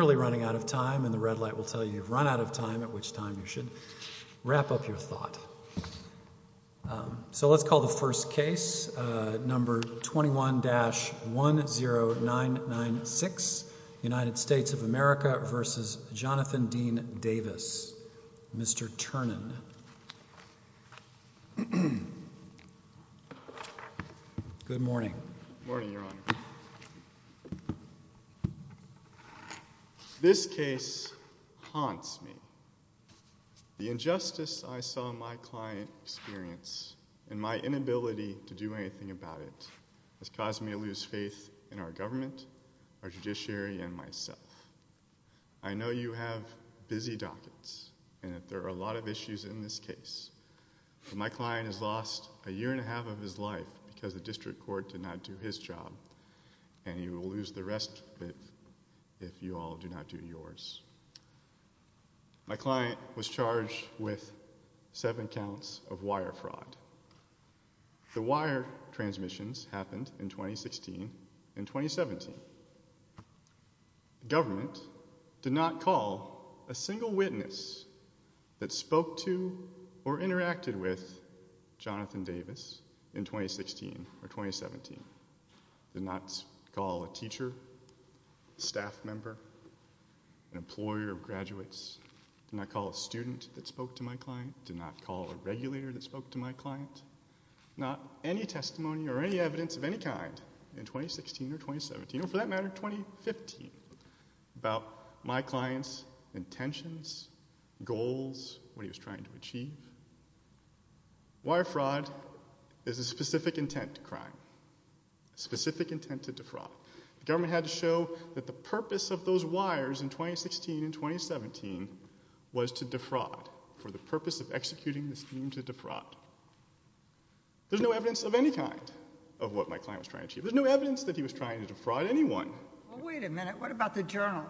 21-10996 United States of America v. Jonathan Dean Davis Mr. Ternan. Good morning. This case haunts me. The injustice I saw my client experience and my inability to do anything about it has caused me to lose faith in our lot of issues in this case. My client has lost a year and a half of his life because the district court did not do his job and you will lose the rest of it if you all do not do yours. My client was charged with seven counts of wire fraud. The wire transmissions happened in 2016 and 2017. Government did not call a spoke to or interacted with Jonathan Davis in 2016 or 2017. Did not call a teacher, staff member, an employer of graduates. Did not call a student that spoke to my client. Did not call a regulator that spoke to my client. Not any testimony or any evidence of any kind in 2016 or 2017 or for that matter 2015 about my client's intentions, goals, what he was trying to achieve. Wire fraud is a specific intent to crime. Specific intent to defraud. Government had to show that the purpose of those wires in 2016 and 2017 was to defraud for the purpose of executing the scheme to defraud. There's no evidence of any kind of what my client was trying to achieve. There's no evidence that he was trying to defraud anyone. Wait a minute, what about the journal?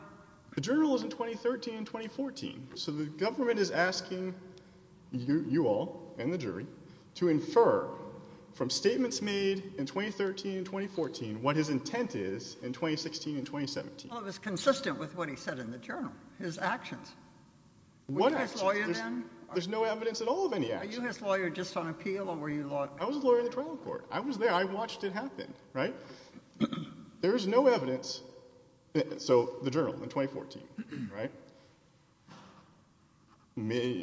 The journal is in 2013 and 2014. So the government is asking you all and the jury to infer from statements made in 2013 and 2014 what his intent is in 2016 and 2017. Well it was consistent with what he said in the journal. His actions. What actions? Were you his lawyer then? There's no evidence at all of any actions. Were you his lawyer just on appeal or were you law adviser? I was his lawyer in the trial court. I was there. I watched it happen, right? There's no evidence. So the journal in 2014, right?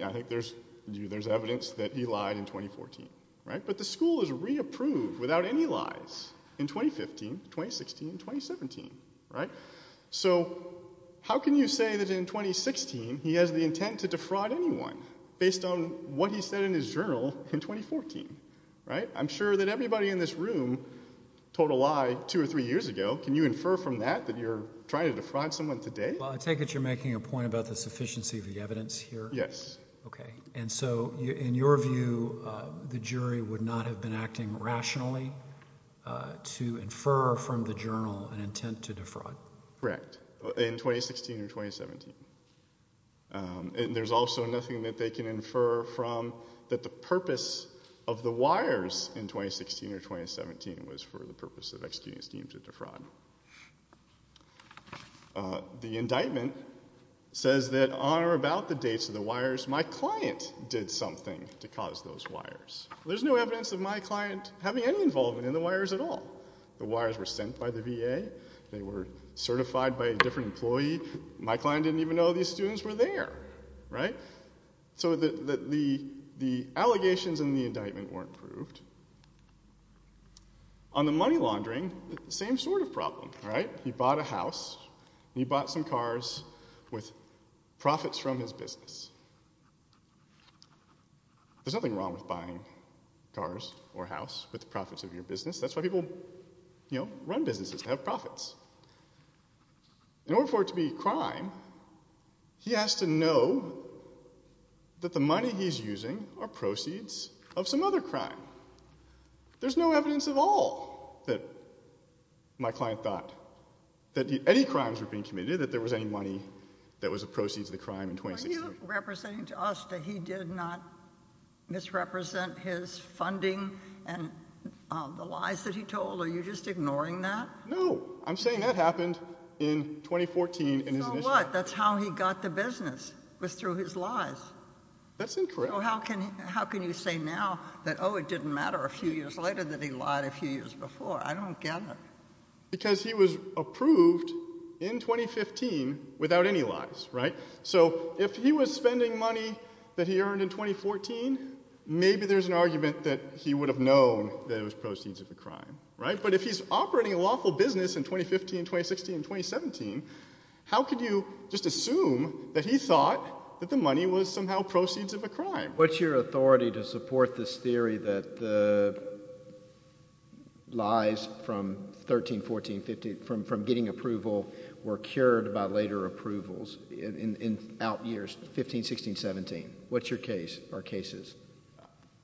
I think there's evidence that he lied in 2014, right? But the school is re-approved without any lies in 2015, 2016, 2017, right? So how can you say that in 2016 he has the intent to defraud anyone based on what he said in his journal in 2014, right? I'm sure that everybody in this room told a lie two or three years ago. Can you infer from that that you're trying to defraud someone today? Well I take it you're making a point about the sufficiency of the evidence here? Yes. Okay. And so in your view the jury would not have been acting rationally to infer from the journal an intent to defraud. Correct. In 2016 or 2017. And there's also nothing that they can infer from that the purpose of the wires in 2016 or 2017 was for the purpose of executing a scheme to defraud. The indictment says that on or about the dates of the wires my client did something to cause those wires. There's no evidence of my client having any involvement in the wires at all. The wires were sent by the VA. They were certified by a different employee. My client didn't even know these students were there, right? So the allegations in the indictment weren't proved. On the money laundering, same sort of problem, right? He bought a house and he bought some cars with profits from his business. There's nothing wrong with buying cars or a house with the profits of your business. That's why people run businesses. They have profits. In order for it to be a crime, he has to know that the money he's using are proceeds of some other crime. There's no evidence at all that my client thought that any crimes were being committed, that there was any money that was the proceeds of the crime in 2016. Are you representing to us that he did not misrepresent his funding and the lies that he told? Are you just ignoring that? No. I'm saying that happened in 2014. So what? That's how he got the business, was through his lies. That's incorrect. So how can you say now that, oh, it didn't matter a few years later that he lied a few years before? I don't get it. Because he was approved in 2015 without any lies, right? So if he was spending money that he earned in 2014, maybe there's an argument that he would have known that it was proceeds of a crime, right? But if he's operating a lawful business in 2015, 2016, and 2017, how could you just assume that he thought that the money was somehow proceeds of a crime? What's your authority to support this theory that the lies from 13, 14, 15, from getting approval were cured by later approvals in out years, 15, 16, 17? What's your case or cases?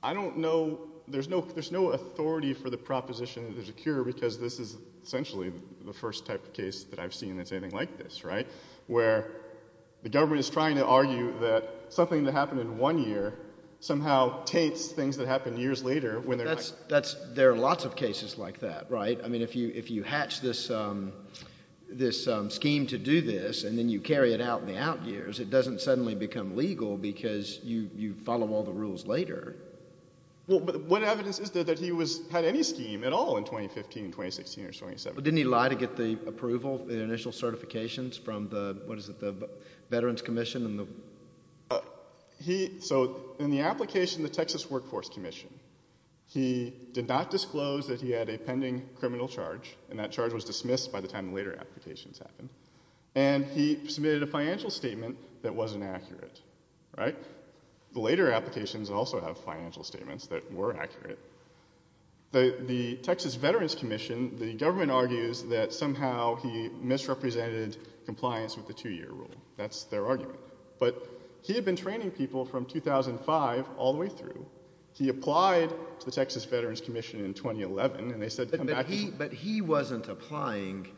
I don't know. There's no authority for the proposition that there's a cure because this is essentially the first type of case that I've seen that's anything like this, right? Where the government is trying to argue that something that happened in one year somehow taints things that happened years later when they're not. There are lots of cases like that, right? I mean, if you hatch this scheme to do this and then you carry it out in the out years, it doesn't suddenly become legal because you follow all the rules later. What evidence is there that he had any scheme at all in 2015, 2016, or 2017? Didn't he lie to get the approval, the initial certifications from the, what is it, the Veterans Commission? So in the application, the Texas Workforce Commission, he did not disclose that he had a pending criminal charge and that charge was dismissed by the time the later applications happened. And he submitted a financial statement that wasn't accurate, right? The later applications also have financial statements that were accurate. The Texas Veterans Commission, the government argues that somehow he misrepresented compliance with the two-year rule. That's their argument. But he had been training people from 2005 all the way through. He applied to the Texas Veterans Commission in 2011 and they said come back to me. But he wasn't applying.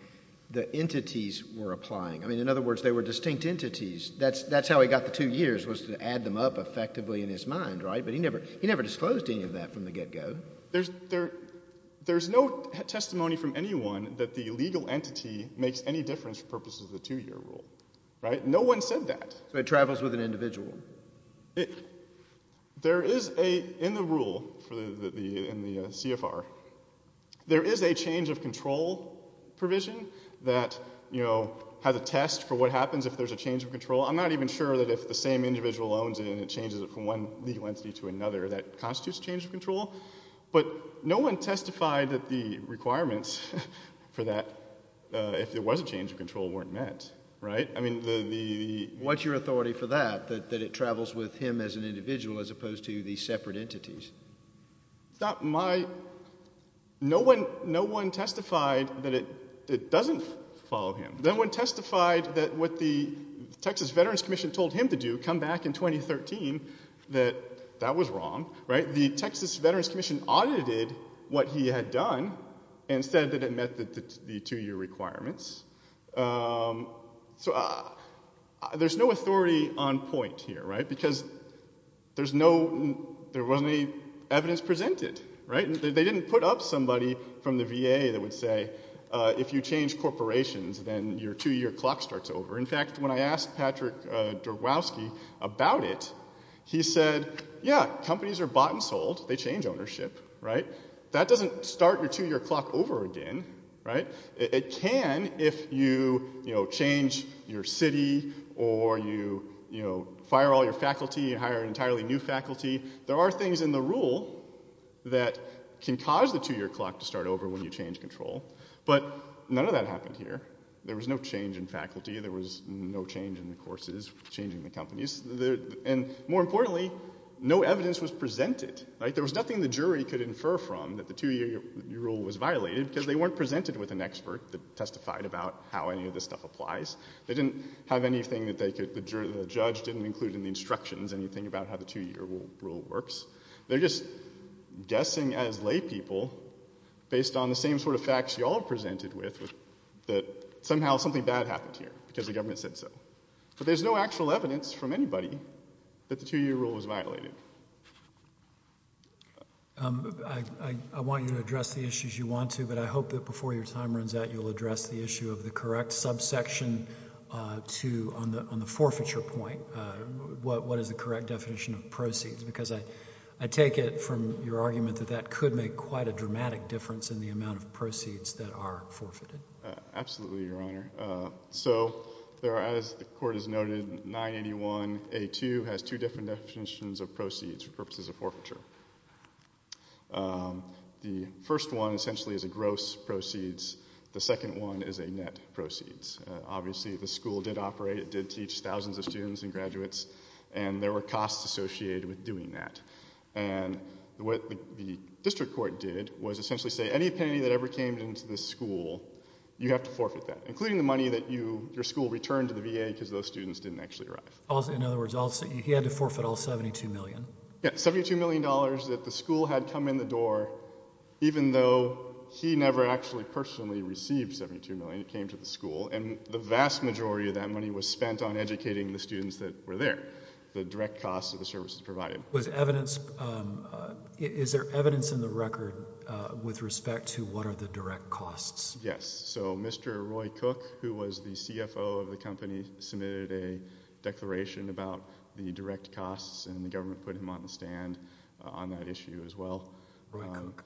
The entities were applying. I mean, in other words, they were distinct entities. That's how he got the two years was to add them up effectively in his mind, right? But he never disclosed any of that from the get-go. There's no testimony from anyone that the legal entity makes any difference for purposes of the two-year rule, right? No one said that. So it travels with an individual. There is a, in the rule, in the CFR, there is a change of control provision that has a test for what happens if there's a change of control. I'm not even sure that if the same individual owns it and it changes it from one legal entity to another, that constitutes change of control. But no one testified that the requirements for that, if there was a change of control, weren't met. Right? I mean, the— What's your authority for that, that it travels with him as an individual as opposed to the separate entities? It's not my—no one testified that it doesn't follow him. No one testified that what the Texas Veterans Commission told him to do, come back in 2013, that that was wrong, right? The Texas Veterans Commission audited what he had done and said that it met the two-year requirements. So there's no authority on point here, right? Because there's no—there wasn't any evidence presented, right? They didn't put up somebody from the VA that would say, if you change corporations, then your two-year clock starts over. In fact, when I asked Patrick Drogwowski about it, he said, yeah, companies are bought and sold. They change ownership, right? That doesn't start your two-year clock over again, right? It can if you, you know, change your city or you, you know, fire all your faculty and hire entirely new faculty. There are things in the rule that can cause the two-year clock to start over when you change control. But none of that happened here. There was no change in faculty. There was no change in the courses, changing the companies. And more importantly, no evidence was presented, right? There was nothing the jury could infer from that the two-year rule was violated because they weren't presented with an expert that testified about how any of this stuff applies. They didn't have anything that they could—the judge didn't include in the instructions anything about how the two-year rule works. They're just guessing as laypeople, based on the same sort of facts you all are presented with, that somehow something bad happened here because the government said so. But there's no actual evidence from anybody that the two-year rule was violated. I want you to address the issues you want to, but I hope that before your time runs out, you'll address the issue of the correct subsection to—on the forfeiture point. What is the correct definition of proceeds? Because I take it from your argument that that could make quite a dramatic difference in the amount of proceeds that are forfeited. Absolutely, Your Honor. So as the Court has noted, 981A2 has two different definitions of proceeds for purposes of forfeiture. The first one essentially is a gross proceeds. The second one is a net proceeds. Obviously, the school did operate. It did teach thousands of students and graduates, and there were costs associated with doing that. And what the district court did was essentially say, any penny that ever came into this school, you have to forfeit that, including the money that your school returned to the VA because those students didn't actually arrive. In other words, he had to forfeit all $72 million. Yes, $72 million that the school had come in the door, even though he never actually personally received $72 million. It came to the school. And the vast majority of that money was spent on educating the students that were there, the direct costs of the services provided. Was evidence – is there evidence in the record with respect to what are the direct costs? Yes. So Mr. Roy Cook, who was the CFO of the company, submitted a declaration about the direct costs, and the government put him on the stand on that issue as well. Roy Cook.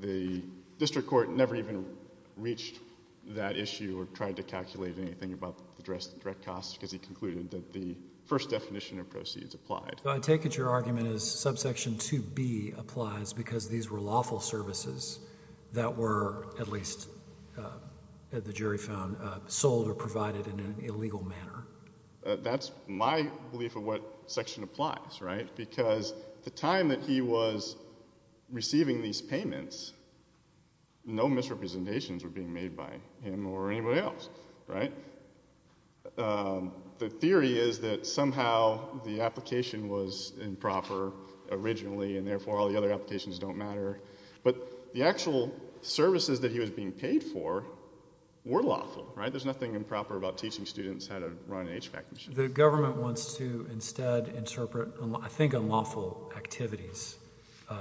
The district court never even reached that issue or tried to calculate anything about the direct costs because he concluded that the first definition of proceeds applied. I take it your argument is subsection 2B applies because these were lawful services that were at least, the jury found, sold or provided in an illegal manner. That's my belief of what section applies, right? Because the time that he was receiving these payments, no misrepresentations were being made by him or anybody else, right? The theory is that somehow the application was improper originally and therefore all the other applications don't matter. But the actual services that he was being paid for were lawful, right? There's nothing improper about teaching students how to run an HVAC machine. The government wants to instead interpret, I think, unlawful activities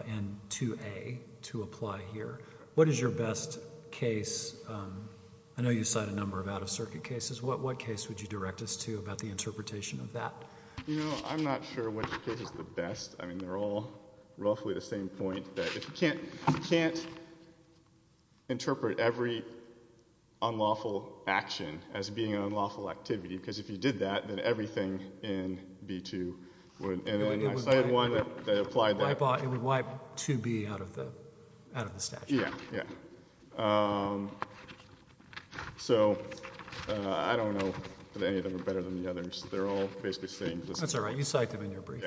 in 2A to apply here. What is your best case? I know you've cited a number of out-of-circuit cases. What case would you direct us to about the interpretation of that? You know, I'm not sure which case is the best. I mean, they're all roughly the same point, that if you can't interpret every unlawful action as being an unlawful activity because if you did that, then everything in B-2 would. I cited one that applied that. It would wipe 2B out of the statute. Yeah, yeah. So I don't know if any of them are better than the others. They're all basically the same. That's all right. You cite them in your brief.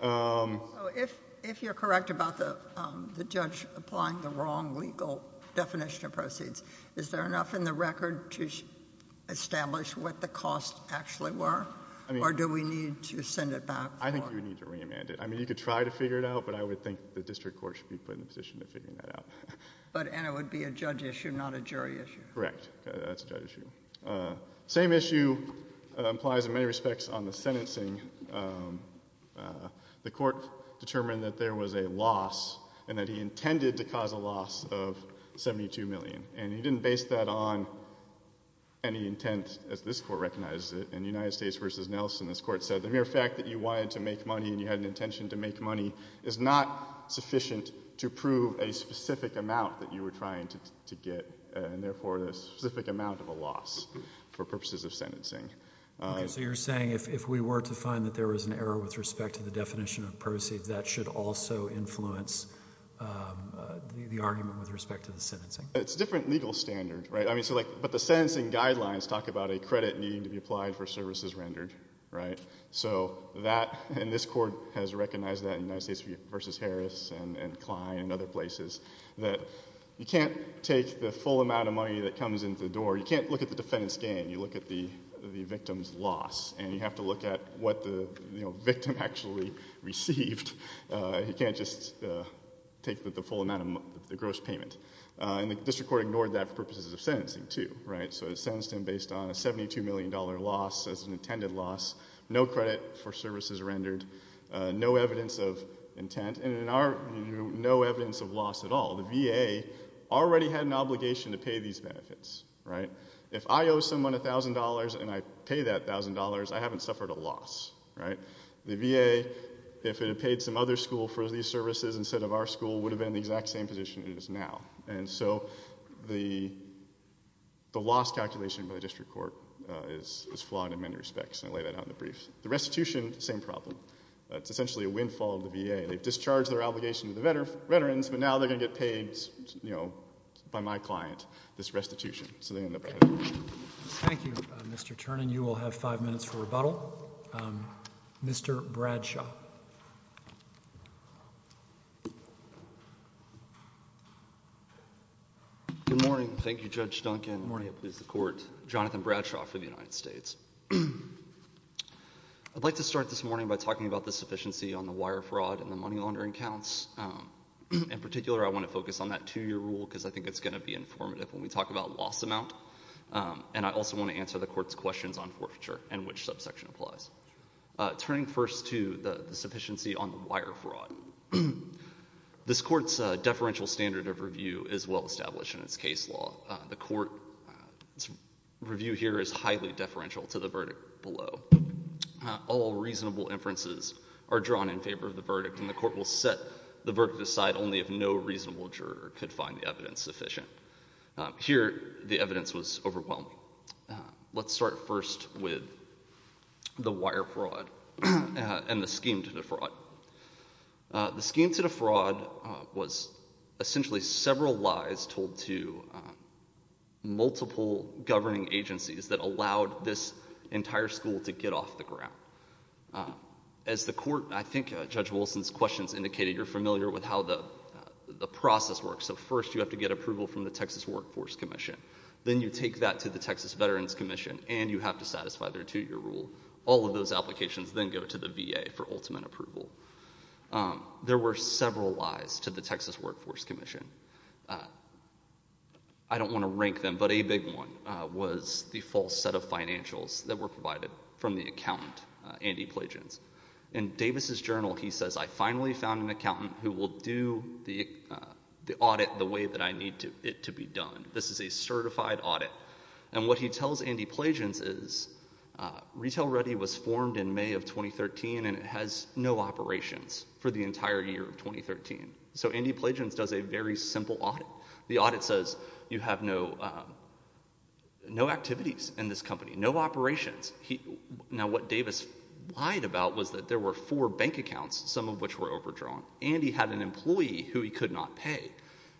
So if you're correct about the judge applying the wrong legal definition of proceeds, is there enough in the record to establish what the costs actually were? Or do we need to send it back? I think you would need to remand it. I mean, you could try to figure it out, but I would think the district court should be put in a position to figure that out. And it would be a judge issue, not a jury issue. Correct. That's a judge issue. Same issue applies in many respects on the sentencing. The court determined that there was a loss and that he intended to cause a loss of $72 million. And he didn't base that on any intent, as this court recognized it. In United States v. Nelson, this court said the mere fact that you wanted to make money and you had an intention to make money is not sufficient to prove a specific amount that you were trying to get, and therefore a specific amount of a loss for purposes of sentencing. Okay. So you're saying if we were to find that there was an error with respect to the definition of proceeds, that should also influence the argument with respect to the sentencing? It's a different legal standard, right? But the sentencing guidelines talk about a credit needing to be applied for services rendered, right? So that, and this court has recognized that in United States v. Harris and Klein and other places, that you can't take the full amount of money that comes in through the door. You can't look at the defendant's gain. You look at the victim's loss, and you have to look at what the victim actually received. You can't just take the full amount of the gross payment. And the district court ignored that for purposes of sentencing too, right? So it sentenced him based on a $72 million loss as an intended loss, no credit for services rendered, no evidence of intent, and in our view, no evidence of loss at all. The VA already had an obligation to pay these benefits, right? If I owe someone $1,000 and I pay that $1,000, I haven't suffered a loss, right? The VA, if it had paid some other school for these services instead of our school, would have been in the exact same position it is now. And so the loss calculation by the district court is flawed in many respects, and I lay that out in the brief. The restitution, same problem. It's essentially a windfall of the VA. They've discharged their obligation to the veterans, but now they're going to get paid, you know, by my client, this restitution, so they end up paying. Thank you, Mr. Ternan. You will have five minutes for rebuttal. Mr. Bradshaw. Good morning. Thank you, Judge Duncan. Good morning. Please support Jonathan Bradshaw for the United States. I'd like to start this morning by talking about the sufficiency on the wire fraud and the money laundering counts. In particular, I want to focus on that two-year rule because I think it's going to be informative when we talk about loss amount, and I also want to answer the court's questions on forfeiture and which subsection applies. Turning first to the sufficiency on the wire fraud, this court's deferential standard of review is well established in its case law. The court's review here is highly deferential to the verdict below. All reasonable inferences are drawn in favor of the verdict, and the court will set the verdict aside only if no reasonable juror could find the evidence sufficient. Here, the evidence was overwhelming. Let's start first with the wire fraud and the scheme to defraud. The scheme to defraud was essentially several lies told to multiple governing agencies that allowed this entire school to get off the ground. As the court, I think Judge Wilson's questions indicated, you're familiar with how the process works. First, you have to get approval from the Texas Workforce Commission. Then you take that to the Texas Veterans Commission, and you have to satisfy their two-year rule. All of those applications then go to the VA for ultimate approval. There were several lies to the Texas Workforce Commission. I don't want to rank them, but a big one was the false set of financials that were provided from the accountant, Andy Plagens. In Davis's journal, he says, I finally found an accountant who will do the audit the way that I need it to be done. This is a certified audit. And what he tells Andy Plagens is retail ready was formed in May of 2013, and it has no operations for the entire year of 2013. So Andy Plagens does a very simple audit. The audit says you have no activities in this company, no operations. Now what Davis lied about was that there were four bank accounts, some of which were overdrawn. Andy had an employee who he could not pay.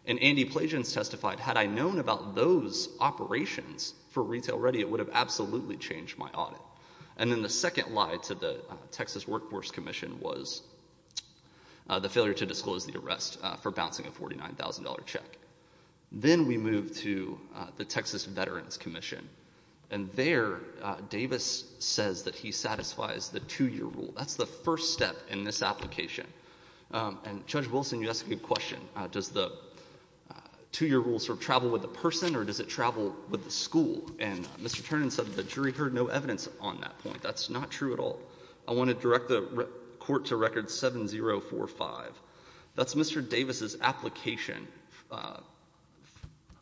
And Andy Plagens testified, had I known about those operations for retail ready, it would have absolutely changed my audit. And then the second lie to the Texas Workforce Commission was the failure to disclose the arrest for bouncing a $49,000 check. Then we moved to the Texas Veterans Commission. And there Davis says that he satisfies the two-year rule. That's the first step in this application. And Judge Wilson, you asked a good question. Does the two-year rule sort of travel with the person or does it travel with the school? And Mr. Ternan said that the jury heard no evidence on that point. That's not true at all. I want to direct the court to record 7045. That's Mr. Davis's application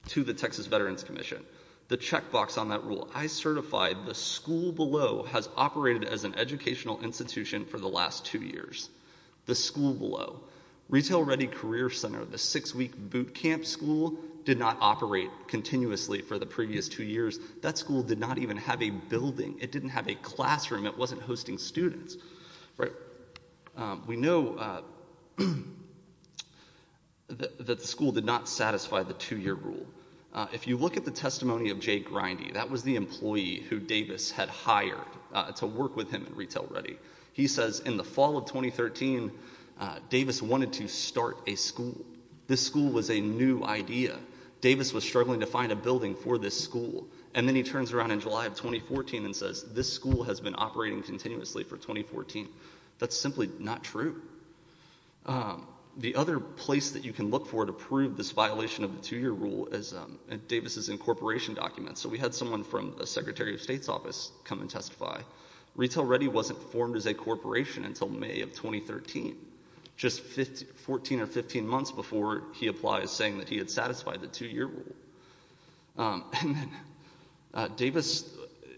to the Texas Veterans Commission. The checkbox on that rule, I certified the school below has operated as an educational institution for the last two years. The school below. Retail Ready Career Center, the six-week boot camp school, did not operate continuously for the previous two years. That school did not even have a building. It didn't have a classroom. It wasn't hosting students. We know that the school did not satisfy the two-year rule. If you look at the testimony of Jay Grindy, that was the employee who Davis had hired to work with him in Retail Ready. He says in the fall of 2013, Davis wanted to start a school. This school was a new idea. Davis was struggling to find a building for this school. And then he turns around in July of 2014 and says this school has been operating continuously for 2014. That's simply not true. The other place that you can look for to prove this violation of the two-year rule is Davis's incorporation documents. So we had someone from the Secretary of State's office come and testify. Retail Ready wasn't formed as a corporation until May of 2013, just 14 or 15 months before he applies saying that he had satisfied the two-year rule. And then Davis,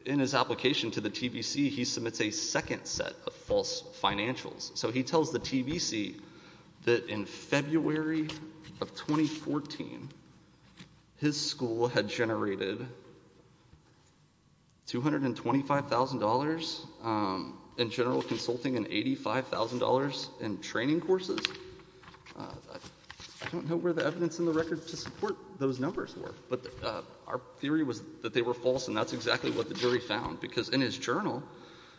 in his application to the TBC, he submits a second set of false financials. So he tells the TBC that in February of 2014, his school had generated $225,000 in general consulting and $85,000 in training courses. I don't know where the evidence in the record to support those numbers were, but our theory was that they were false, and that's exactly what the jury found. Because in his journal,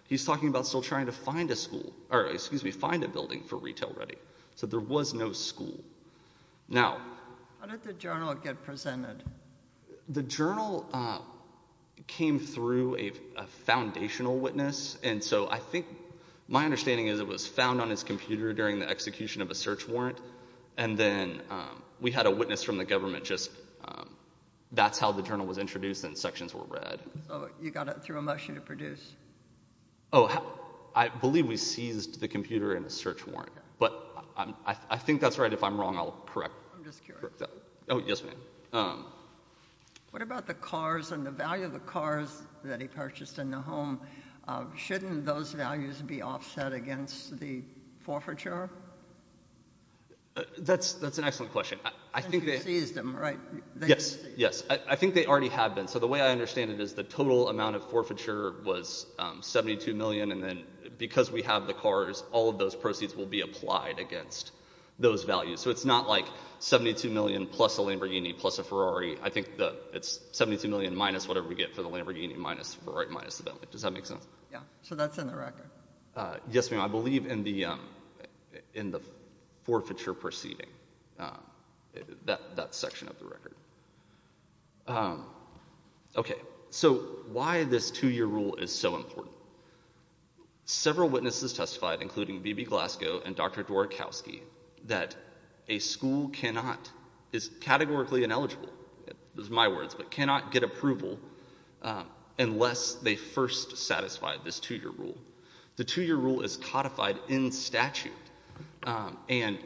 he's talking about still trying to find a school – or excuse me, find a building for Retail Ready. So there was no school. Now – How did the journal get presented? The journal came through a foundational witness, and so I think – my understanding is it was found on his computer during the execution of a search warrant. And then we had a witness from the government just – that's how the journal was introduced and sections were read. So you got it through a motion to produce? Oh, I believe we seized the computer and the search warrant, but I think that's right. If I'm wrong, I'll correct that. I'm just curious. Oh, yes, ma'am. What about the cars and the value of the cars that he purchased in the home? Shouldn't those values be offset against the forfeiture? That's an excellent question. You seized them, right? Yes, yes. I think they already have been. So the way I understand it is the total amount of forfeiture was $72 million, and then because we have the cars, all of those proceeds will be applied against those values. So it's not like $72 million plus a Lamborghini plus a Ferrari. I think it's $72 million minus whatever we get for the Lamborghini minus the Ferrari minus the Bentley. Does that make sense? Yeah. So that's in the record. Yes, ma'am. I believe in the forfeiture proceeding, that section of the record. Okay. So why this two-year rule is so important. Several witnesses testified, including B.B. Glasgow and Dr. Dworkowski, that a school is categorically ineligible. Those are my words, but cannot get approval unless they first satisfy this two-year rule. The two-year rule is codified in statute, and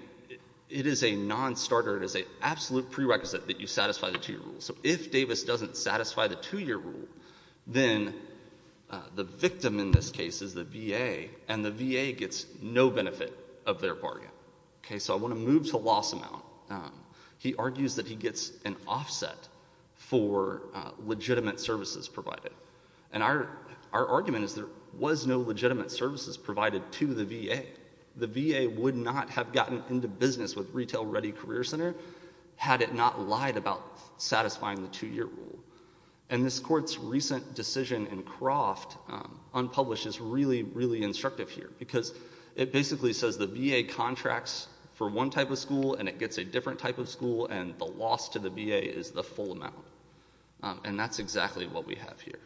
it is a nonstarter. It is an absolute prerequisite that you satisfy the two-year rule. So if Davis doesn't satisfy the two-year rule, then the victim in this case is the VA, and the VA gets no benefit of their bargain. So I want to move to loss amount. He argues that he gets an offset for legitimate services provided. And our argument is there was no legitimate services provided to the VA. The VA would not have gotten into business with Retail Ready Career Center had it not lied about satisfying the two-year rule. And this court's recent decision in Croft, unpublished, is really, really instructive here, because it basically says the VA contracts for one type of school, and it gets a different type of school, and the loss to the VA is the full amount. And that's exactly what we have here.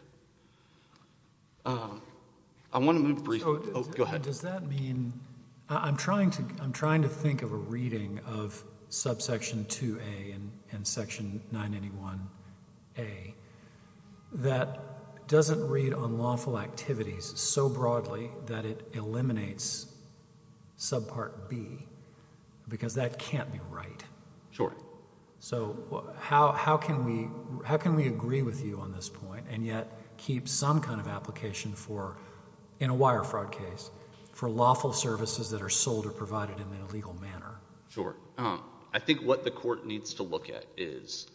I want to move briefly. Oh, go ahead. Does that mean – I'm trying to think of a reading of subsection 2A and section 981A that doesn't read unlawful activities so broadly that it eliminates subpart B, because that can't be right. Sure. So how can we agree with you on this point and yet keep some kind of application for, in a wire fraud case, for lawful services that are sold or provided in an illegal manner? Sure. I think what the court needs to look at is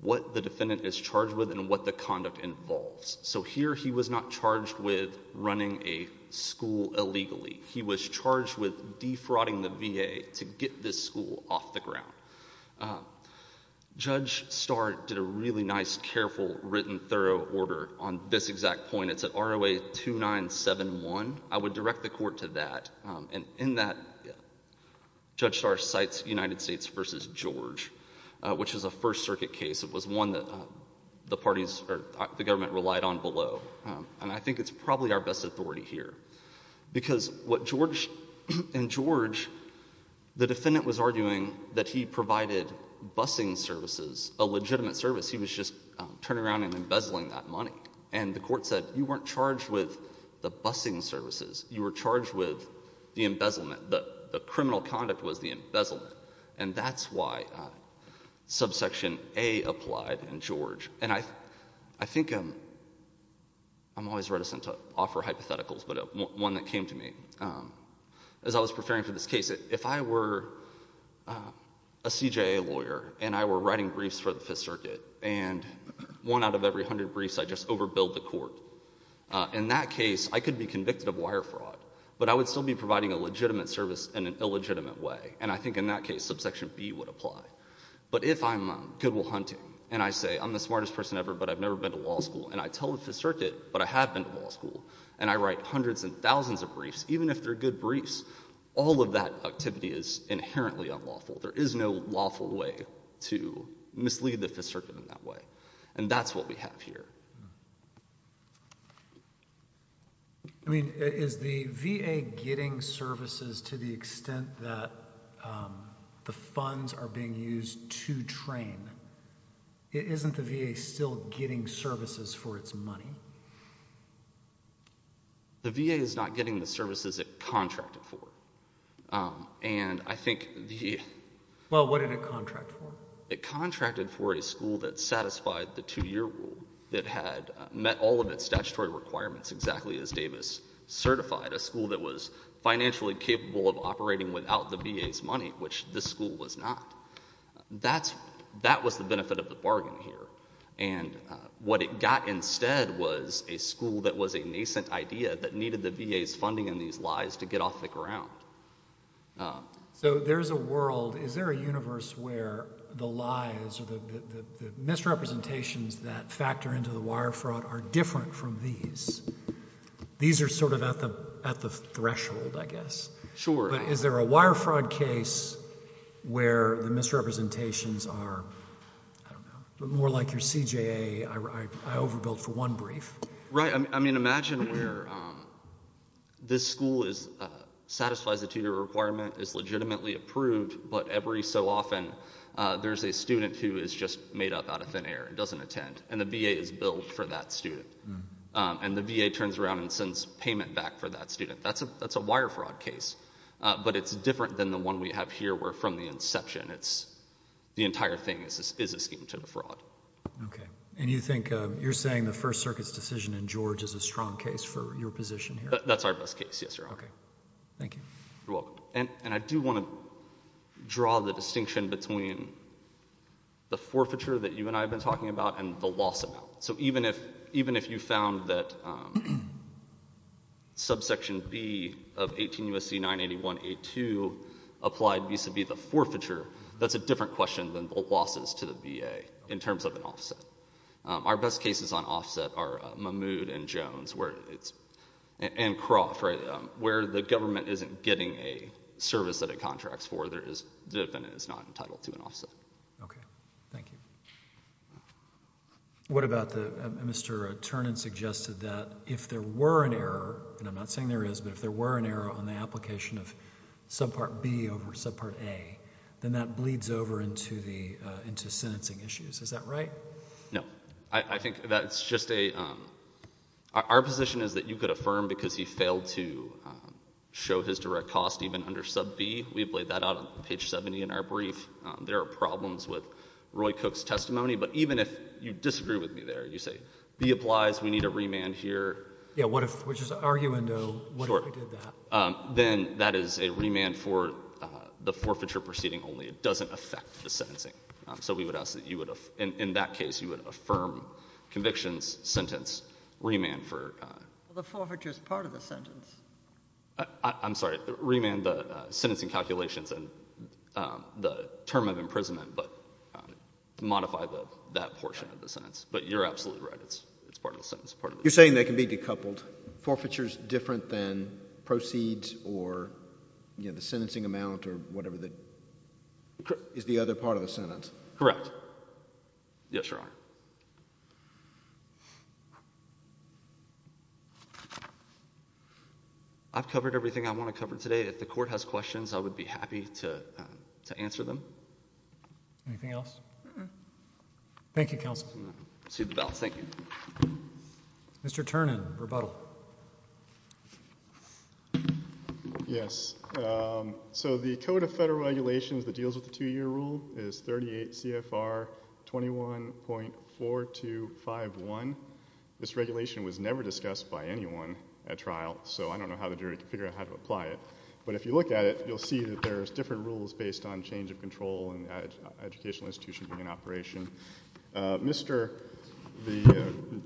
what the defendant is charged with and what the conduct involves. So here he was not charged with running a school illegally. He was charged with defrauding the VA to get this school off the ground. Judge Starr did a really nice, careful, written, thorough order on this exact point. It's at ROA 2971. I would direct the court to that. And in that, Judge Starr cites United States v. George, which is a First Circuit case. It was one that the government relied on below, and I think it's probably our best authority here, because what George and George, the defendant was arguing that he provided busing services, a legitimate service. He was just turning around and embezzling that money. And the court said you weren't charged with the busing services. You were charged with the embezzlement. The criminal conduct was the embezzlement, and that's why subsection A applied in George. And I think I'm always reticent to offer hypotheticals, but one that came to me. As I was preparing for this case, if I were a CJA lawyer and I were writing briefs for the Fifth Circuit, and one out of every hundred briefs I just overbilled the court, in that case I could be convicted of wire fraud, but I would still be providing a legitimate service in an illegitimate way. And I think in that case subsection B would apply. But if I'm good will hunting and I say I'm the smartest person ever, but I've never been to law school, and I tell the Fifth Circuit, but I have been to law school, and I write hundreds and thousands of briefs, even if they're good briefs, all of that activity is inherently unlawful. There is no lawful way to mislead the Fifth Circuit in that way, and that's what we have here. I mean, is the VA getting services to the extent that the funds are being used to train? Isn't the VA still getting services for its money? The VA is not getting the services it contracted for. And I think the— Well, what did it contract for? It contracted for a school that satisfied the two-year rule that had met all of its statutory requirements exactly as Davis certified, a school that was financially capable of operating without the VA's money, which this school was not. That was the benefit of the bargain here, and what it got instead was a school that was a nascent idea that needed the VA's funding in these lies to get off the ground. So there is a world—is there a universe where the lies or the misrepresentations that factor into the wire fraud are different from these? These are sort of at the threshold, I guess. Sure. But is there a wire fraud case where the misrepresentations are, I don't know, more like your CJA I overbuilt for one brief? Right. I mean, imagine where this school satisfies the two-year requirement, is legitimately approved, but every so often there's a student who is just made up out of thin air and doesn't attend, and the VA is billed for that student. And the VA turns around and sends payment back for that student. That's a wire fraud case, but it's different than the one we have here where from the inception, the entire thing is a scheme to the fraud. Okay. And you think you're saying the First Circuit's decision in George is a strong case for your position here? That's our best case, yes, Your Honor. Okay. Thank you. You're welcome. And I do want to draw the distinction between the forfeiture that you and I have been talking about and the loss amount. So even if you found that subsection B of 18 U.S.C. 981A2 applied vis-à-vis the forfeiture, that's a different question than the losses to the VA in terms of an offset. Our best cases on offset are Mahmoud and Jones and Croft, right? Where the government isn't getting a service that it contracts for, the defendant is not entitled to an offset. Okay. Thank you. What about Mr. Ternan suggested that if there were an error, and I'm not saying there is, but if there were an error on the application of subpart B over subpart A, then that bleeds over into sentencing issues. Is that right? No. I think that's just a ‑‑ our position is that you could affirm because he failed to show his direct cost even under sub B. We've laid that out on page 70 in our brief. There are problems with Roy Cook's testimony. But even if you disagree with me there, you say B applies, we need a remand here. Yeah, which is arguendo. What if we did that? Then that is a remand for the forfeiture proceeding only. It doesn't affect the sentencing. So we would ask that you would ‑‑ in that case, you would affirm convictions, sentence, remand for ‑‑ The forfeiture is part of the sentence. I'm sorry. Remand the sentencing calculations and the term of imprisonment, but modify that portion of the sentence. But you're absolutely right. It's part of the sentence. You're saying they can be decoupled. Forfeiture is different than proceeds or, you know, the sentencing amount or whatever that is the other part of the sentence. Correct. Yes, Your Honor. I've covered everything I want to cover today. If the court has questions, I would be happy to answer them. Anything else? No. Thank you, counsel. Proceed with the bill. Thank you. Mr. Ternan, rebuttal. Yes. So the Code of Federal Regulations that deals with the two‑year rule is 38 CFR 21.4251. This regulation was never discussed by anyone at trial, so I don't know how the jury could figure out how to apply it. But if you look at it, you'll see that there's different rules based on change of control and educational institution being in operation. Mr.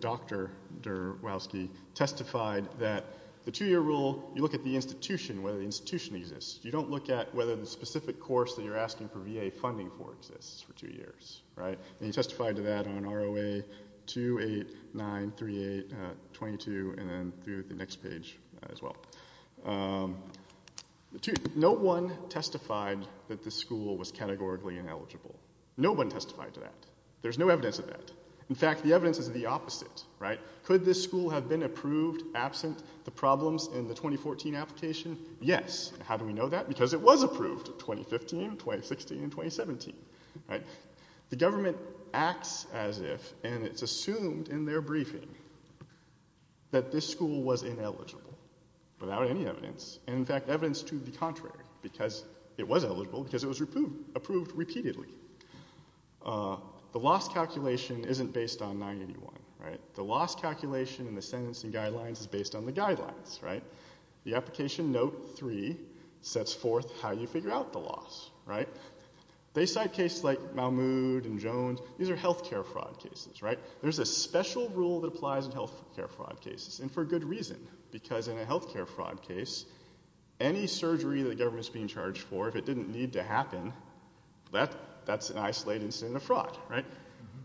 Dr. Derwowski testified that the two‑year rule, you look at the institution, whether the institution exists. You don't look at whether the specific course that you're asking for VA funding for exists for two years, right? And he testified to that on ROA 2893822 and then through the next page as well. No one testified that the school was categorically ineligible. No one testified to that. There's no evidence of that. In fact, the evidence is the opposite, right? Could this school have been approved absent the problems in the 2014 application? Yes. How do we know that? Because it was approved 2015, 2016, and 2017, right? The government acts as if, and it's assumed in their briefing, that this school was ineligible without any evidence. And, in fact, evidence to the contrary because it was eligible because it was approved repeatedly. The loss calculation isn't based on 981, right? The loss calculation and the sentencing guidelines is based on the guidelines, right? The application note 3 sets forth how you figure out the loss, right? They cite cases like Mahmoud and Jones. These are healthcare fraud cases, right? There's a special rule that applies in healthcare fraud cases and for good reason because in a healthcare fraud case, any surgery the government is being charged for, if it didn't need to happen, that's an isolated incident of fraud, right?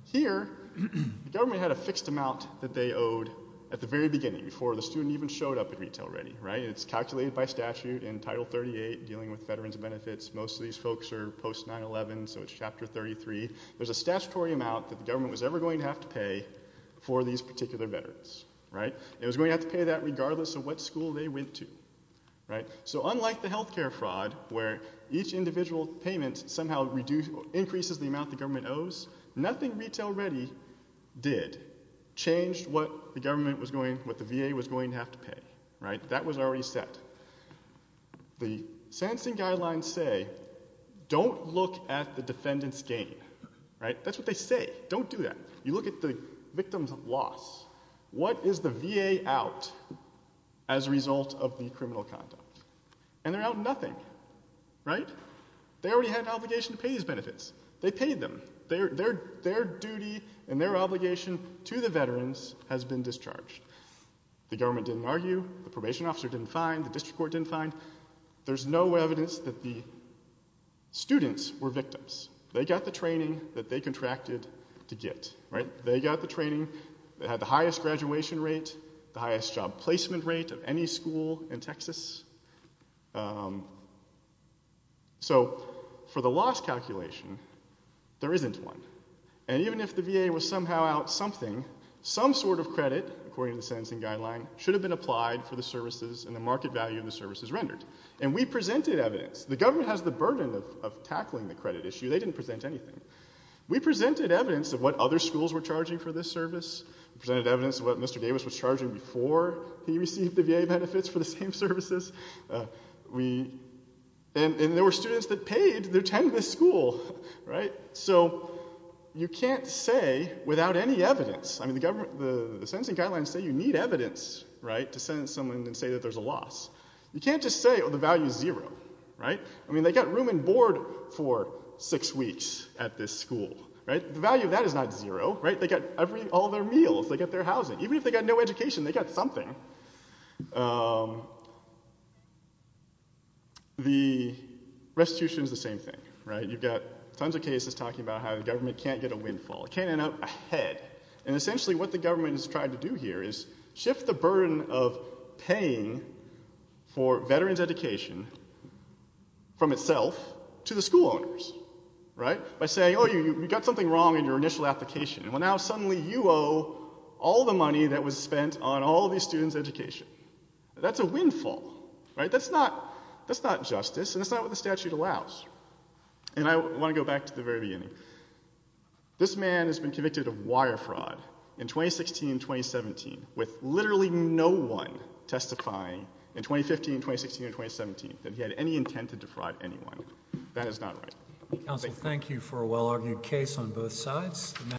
Here, the government had a fixed amount that they owed at the very beginning, before the student even showed up at retail ready, right? It's calculated by statute in Title 38 dealing with veterans' benefits. Most of these folks are post-911, so it's Chapter 33. There's a statutory amount that the government was ever going to have to pay for these particular veterans, right? It was going to have to pay that regardless of what school they went to, right? So unlike the healthcare fraud where each individual payment somehow increases the amount the government owes, nothing retail ready did changed what the VA was going to have to pay, right? That was already set. The sentencing guidelines say don't look at the defendant's gain, right? That's what they say. Don't do that. You look at the victim's loss. What is the VA out as a result of the criminal conduct? And they're out nothing, right? They already had an obligation to pay these benefits. They paid them. Their duty and their obligation to the veterans has been discharged. The government didn't argue. The probation officer didn't find. The district court didn't find. There's no evidence that the students were victims. They got the training that they contracted to get, right? They got the training that had the highest graduation rate, the highest job placement rate of any school in Texas. So for the loss calculation, there isn't one. And even if the VA was somehow out something, some sort of credit, according to the sentencing guideline, should have been applied for the services and the market value of the services rendered. And we presented evidence. The government has the burden of tackling the credit issue. They didn't present anything. We presented evidence of what other schools were charging for this service. We presented evidence of what Mr. Davis was charging before he received the VA benefits for the same services. And there were students that paid their time to this school, right? So you can't say without any evidence. I mean, the sentencing guidelines say you need evidence, right, to sentence someone and say that there's a loss. You can't just say, oh, the value is zero, right? I mean, they got room and board for six weeks at this school, right? The value of that is not zero, right? They got all their meals. They got their housing. Even if they got no education, they got something. The restitution is the same thing, right? You've got tons of cases talking about how the government can't get a windfall. It can't end up ahead. And essentially what the government is trying to do here is shift the burden of paying for veterans' education from itself to the school owners, right, by saying, oh, you got something wrong in your initial application. Well, now suddenly you owe all the money that was spent on all of these students' education. That's a windfall, right? That's not justice, and that's not what the statute allows. And I want to go back to the very beginning. This man has been convicted of wire fraud in 2016 and 2017 with literally no one testifying in 2015, 2016, and 2017 that he had any intent to defraud anyone. Thank you.